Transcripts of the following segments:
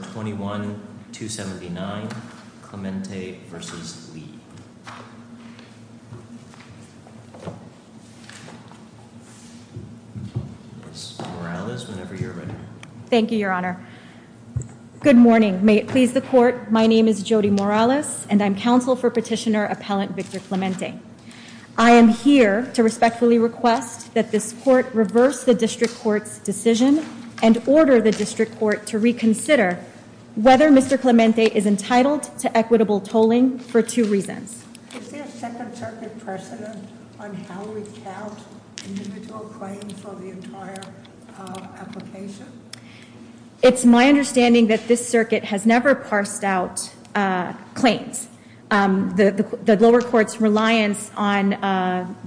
Morales, whenever you're ready. Thank you, Your Honor. Good morning. May it please the court. My name is Jody Morales and I'm counsel for petitioner appellant Victor Clemente. I am here to respectfully request that this court reverse the district court's decision and order the district court to reconsider whether Mr. Clemente is entitled to equitable tolling for two reasons. It's my understanding that this circuit has never parsed out claims. The lower court's reliance on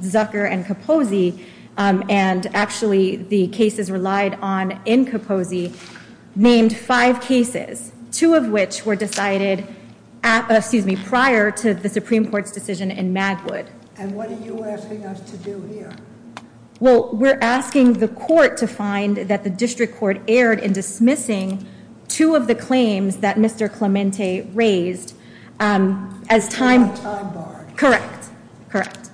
Zucker and Kaposi and actually the cases relied on in Kaposi named five cases, two of which were decided prior to the Supreme Court's decision in Magwood. And what are you asking us to do here? Well, we're asking the court to find that the district court erred in dismissing two of the claims that Mr. Clemente raised as time. Correct. Correct.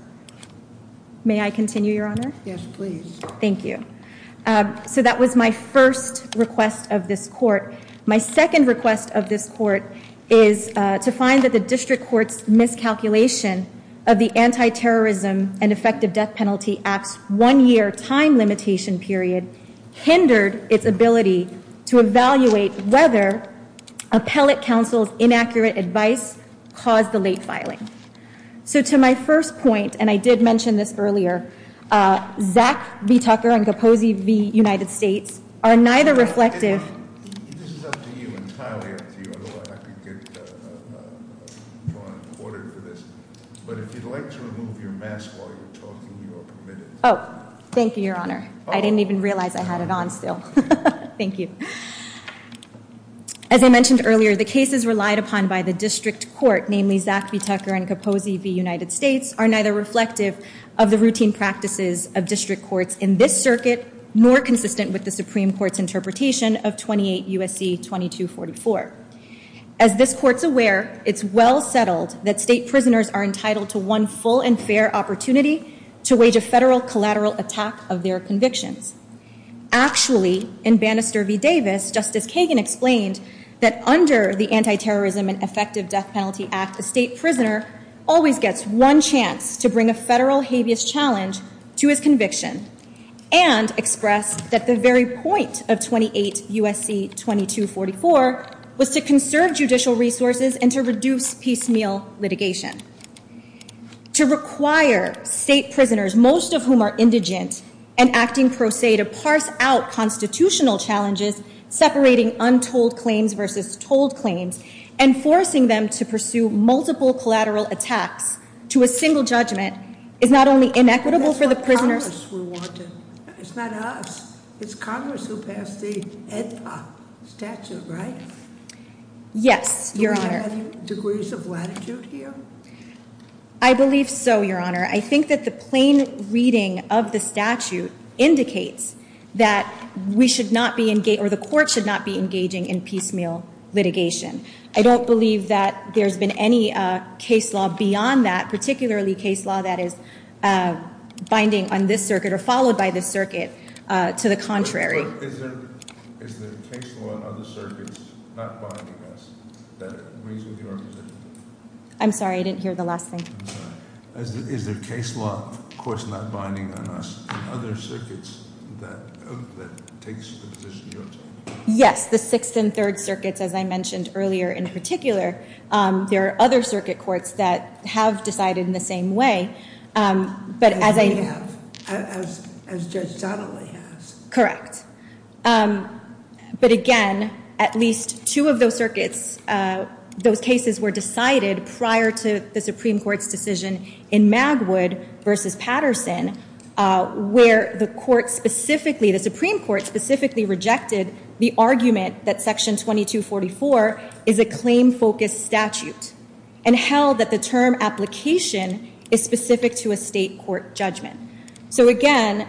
May I continue, Your Honor? Yes, please. Thank you. So that was my first request of this court. My second request of this court is to find that the district court's miscalculation of the anti its ability to evaluate whether appellate counsel's inaccurate advice caused the late filing. So to my first point, and I did mention this earlier, Zach B. Tucker and Kaposi v. United States are neither reflective. This is up to you, entirely up to you, although I could get your order for this. But if you'd like to remove your mask while you're talking, you are permitted. Oh, thank you, Your Honor. I didn't even realize I had it on still. Thank you. As I mentioned earlier, the cases relied upon by the district court, namely Zach B. Tucker and Kaposi v. United States, are neither reflective of the routine practices of district courts in this circuit, nor consistent with the Supreme Court's interpretation of 28 U.S.C. 2244. As this court's aware, it's well settled that state prisoners are entitled to one full and fair opportunity to wage a federal collateral attack of their convictions. Actually, in Bannister v. Davis, Justice Kagan explained that under the Anti-Terrorism and Effective Death Penalty Act, a state prisoner always gets one chance to bring a federal habeas challenge to his conviction, and expressed that the very point of 28 U.S.C. 2244 was to conserve judicial resources and to reduce piecemeal litigation. To require state prisoners, most of whom are indigent and acting pro se, to parse out constitutional challenges, separating untold claims versus told claims, and forcing them to pursue multiple collateral attacks to a single judgment, is not only inequitable for the prisoners- That's what Congress wanted. It's not us. It's Congress who passed the AEDPA statute, right? Yes, Your Honor. Is there any degrees of latitude here? I believe so, Your Honor. I think that the plain reading of the statute indicates that we should not be, or the court should not be engaging in piecemeal litigation. I don't believe that there's been any case law beyond that, particularly case law that is binding on this circuit, or followed by this circuit, to the contrary. Is there case law on other circuits not binding on us that agrees with your position? I'm sorry, I didn't hear the last thing. I'm sorry. Is there case law, of course, not binding on us, other circuits that take the position you're talking about? Yes, the Sixth and Third Circuits, as I mentioned earlier, in particular. There are other circuit courts that have decided in the same way, but as I- As Judge Donnelly has. Correct. But again, at least two of those circuits, those cases were decided prior to the Supreme Court's decision in Magwood v. Patterson, where the Supreme Court specifically rejected the argument that Section 2244 is a claim-focused statute, and held that the term application is specific to a state court judgment. So again,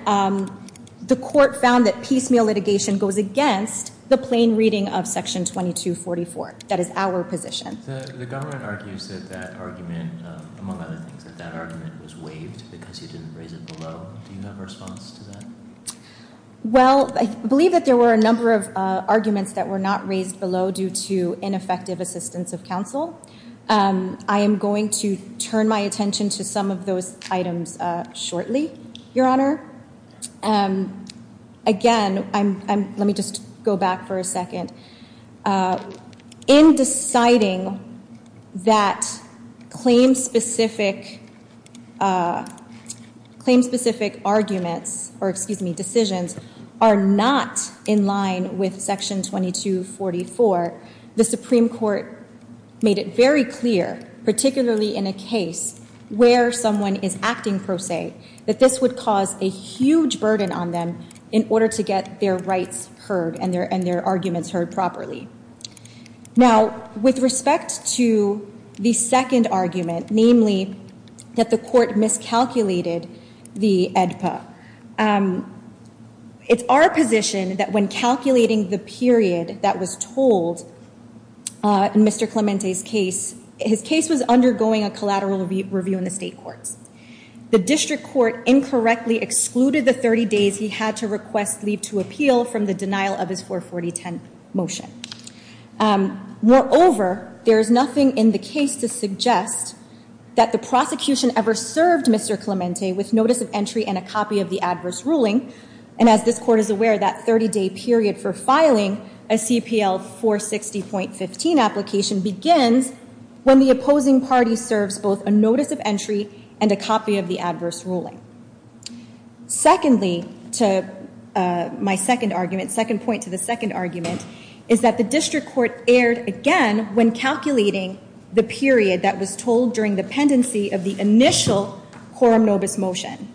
the court found that piecemeal litigation goes against the plain reading of Section 2244. That is our position. The government argues that that argument, among other things, that that argument was waived because you didn't raise it below. Do you have a response to that? Well, I believe that there were a number of arguments that were not raised below due to ineffective assistance of counsel. I am going to turn my attention to some of those items shortly, Your Honor. Again, let me just go back for a second. In deciding that claim-specific arguments, or, excuse me, decisions, are not in line with Section 2244, the Supreme Court made it very clear, particularly in a case where someone is acting pro se, that this would cause a huge burden on them in order to get their rights heard and their arguments heard properly. Now, with respect to the second argument, namely that the court miscalculated the AEDPA, it's our position that when calculating the period that was told in Mr. Clemente's case, his case was undergoing a collateral review in the state courts. The district court incorrectly excluded the 30 days he had to request leave to appeal from the denial of his 44010 motion. Moreover, there is nothing in the case to suggest that the prosecution ever served Mr. Clemente with notice of entry and a copy of the adverse ruling. And as this court is aware, that 30-day period for filing a CPL 460.15 application begins when the opposing party serves both a notice of entry and a copy of the adverse ruling. Secondly, my second argument, second point to the second argument, is that the district court erred again when calculating the period that was told during the pendency of the initial quorum nobis motion.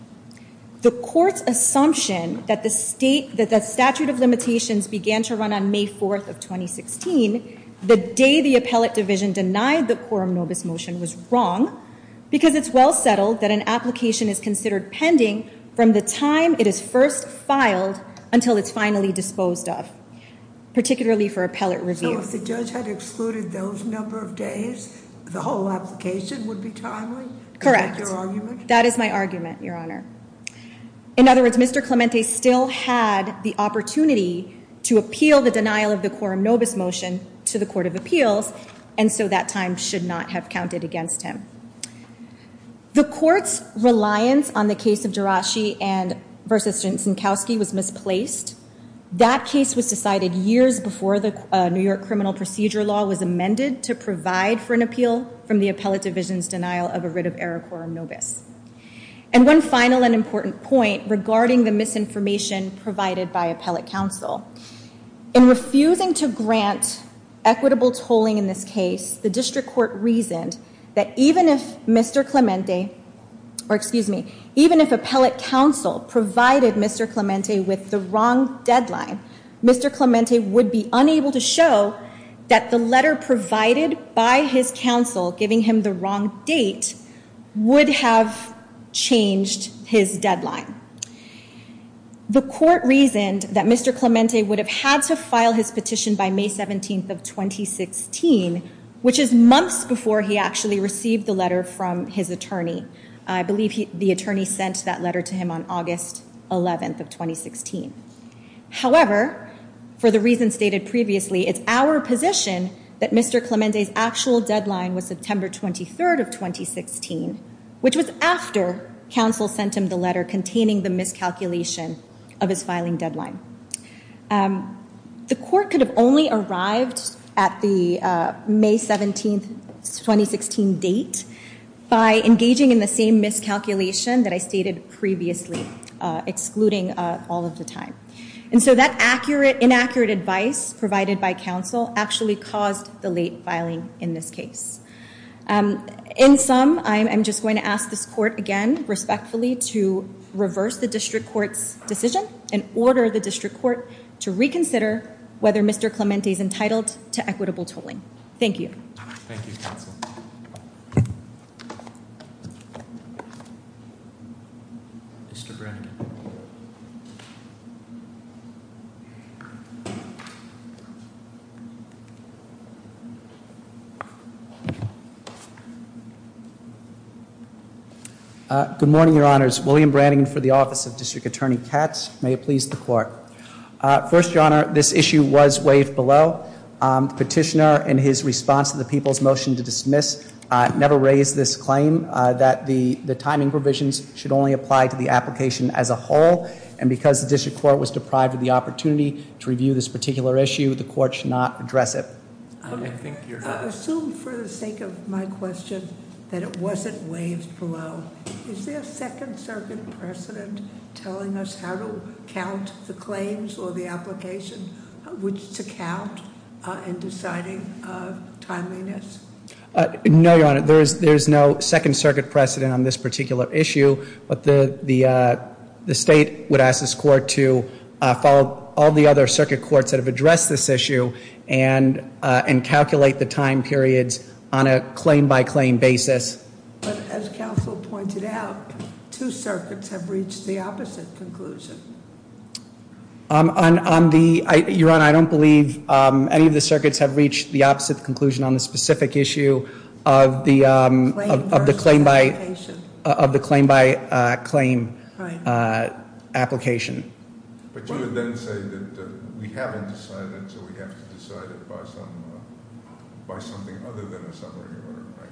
The court's assumption that the statute of limitations began to run on May 4th of 2016, the day the appellate division denied the quorum nobis motion was wrong, because it's well settled that an application is considered pending from the time it is first filed until it's finally disposed of, particularly for appellate review. So if the judge had excluded those number of days, the whole application would be timely? Correct. Is that your argument? That is my argument, Your Honor. In other words, Mr. Clemente still had the opportunity to appeal the denial of the quorum nobis motion to the Court of Appeals, and so that time should not have counted against him. The court's reliance on the case of Jirachi versus Jankowski was misplaced. That case was decided years before the New York criminal procedure law was amended to provide for an appeal from the appellate division's denial of a writ of error quorum nobis. And one final and important point regarding the misinformation provided by appellate counsel. In refusing to grant equitable tolling in this case, the district court reasoned that even if Mr. Clemente, or excuse me, even if appellate counsel provided Mr. Clemente with the wrong deadline, Mr. Clemente would be unable to show that the letter provided by his counsel giving him the wrong date would have changed his deadline. The court reasoned that Mr. Clemente would have had to file his petition by May 17th of 2016, which is months before he actually received the letter from his attorney. I believe the attorney sent that letter to him on August 11th of 2016. However, for the reasons stated previously, it's our position that Mr. Clemente's actual deadline was September 23rd of 2016, which was after counsel sent him the letter containing the miscalculation of his filing deadline. The court could have only arrived at the May 17th, 2016 date by engaging in the same miscalculation that I stated previously, excluding all of the time. And so that inaccurate advice provided by counsel actually caused the late filing in this case. In sum, I'm just going to ask this court again respectfully to reverse the district court's decision and order the district court to reconsider whether Mr. Clemente is entitled to equitable tolling. Thank you. Thank you, counsel. Mr. Brannigan. Good morning, your honors. William Brannigan for the office of District Attorney Katz. May it please the court. First, your honor, this issue was waived below. Petitioner, in his response to the people's motion to dismiss, never raised this claim that the timing provisions should only apply to the application as a whole. And because the district court was deprived of the opportunity to review this particular issue, the court should not address it. I assume for the sake of my question that it wasn't waived below. Is there a second circuit precedent telling us how to count the claims or the application, which to count in deciding timeliness? No, your honor. There's no second circuit precedent on this particular issue. But the state would ask this court to follow all the other circuit courts that have addressed this issue and calculate the time periods on a claim by claim basis. But as counsel pointed out, two circuits have reached the opposite conclusion. Your honor, I don't believe any of the circuits have reached the opposite conclusion on the specific issue of the claim by- Claim versus application. Of the claim by claim application. But you would then say that we haven't decided, so we have to decide it by something other than a summary order, right?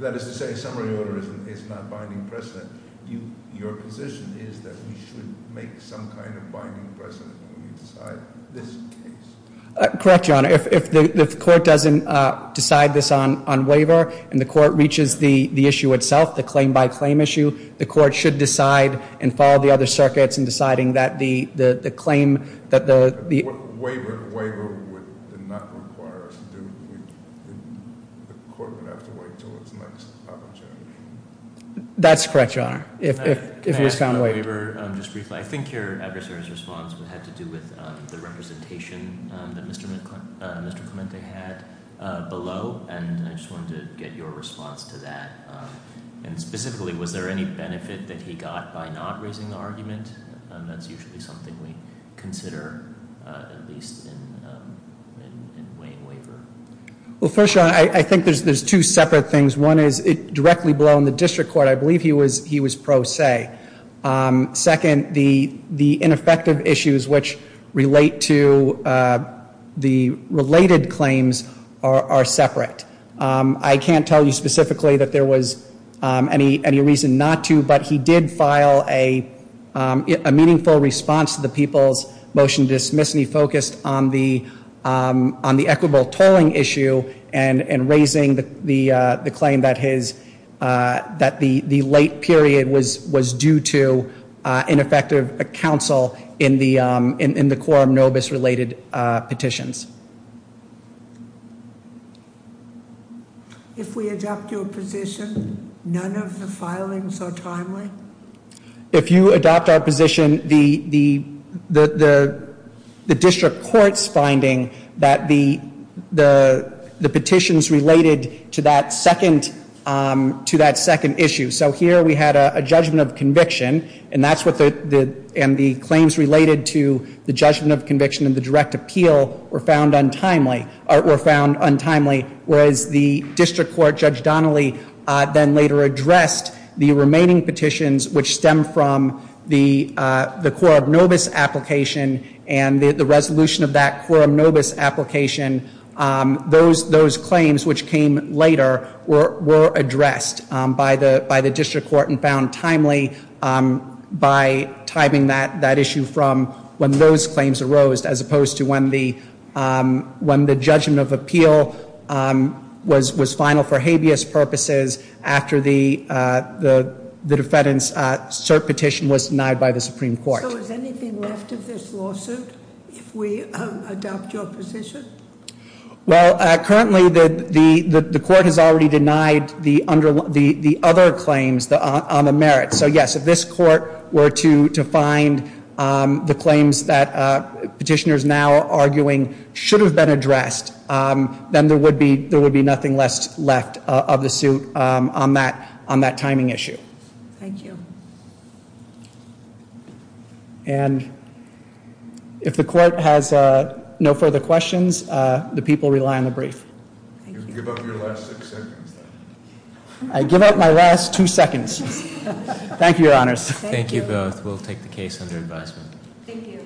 That is to say a summary order is not binding precedent. Your position is that we should make some kind of binding precedent when we decide this case. Correct, your honor. If the court doesn't decide this on waiver and the court reaches the issue itself, the claim by claim issue, the court should decide and follow the other circuits in deciding that the claim that the- Waiver would not require us to do. The court would have to wait until its next opportunity. That's correct, your honor. If it is found- Can I ask on waiver just briefly? I think your adversary's response would have to do with the representation that Mr. Clemente had below. And I just wanted to get your response to that. That's usually something we consider, at least in Wayne waiver. Well, first, your honor, I think there's two separate things. One is directly below in the district court. I believe he was pro se. Second, the ineffective issues which relate to the related claims are separate. I can't tell you specifically that there was any reason not to, but he did file a meaningful response to the people's motion to dismiss, and he focused on the equitable tolling issue and raising the claim that his- If we adopt your position, none of the filings are timely? If you adopt our position, the district court's finding that the petitions related to that second issue. So here we had a judgment of conviction, and the claims related to the judgment of conviction and the direct appeal were found untimely, whereas the district court, Judge Donnelly, then later addressed the remaining petitions, which stem from the quorum nobis application and the resolution of that quorum nobis application. Those claims, which came later, were addressed by the district court and found timely by timing that issue from when those claims arose, as opposed to when the judgment of appeal was final for habeas purposes after the defendant's cert petition was denied by the Supreme Court. So is anything left of this lawsuit if we adopt your position? Well, currently the court has already denied the other claims on the merits. So yes, if this court were to find the claims that petitioners now are arguing should have been addressed, then there would be nothing left of the suit on that timing issue. Thank you. And if the court has no further questions, the people rely on the brief. Give up your last six seconds. I give up my last two seconds. Thank you, Your Honors. Thank you both. We'll take the case under advisement. Thank you.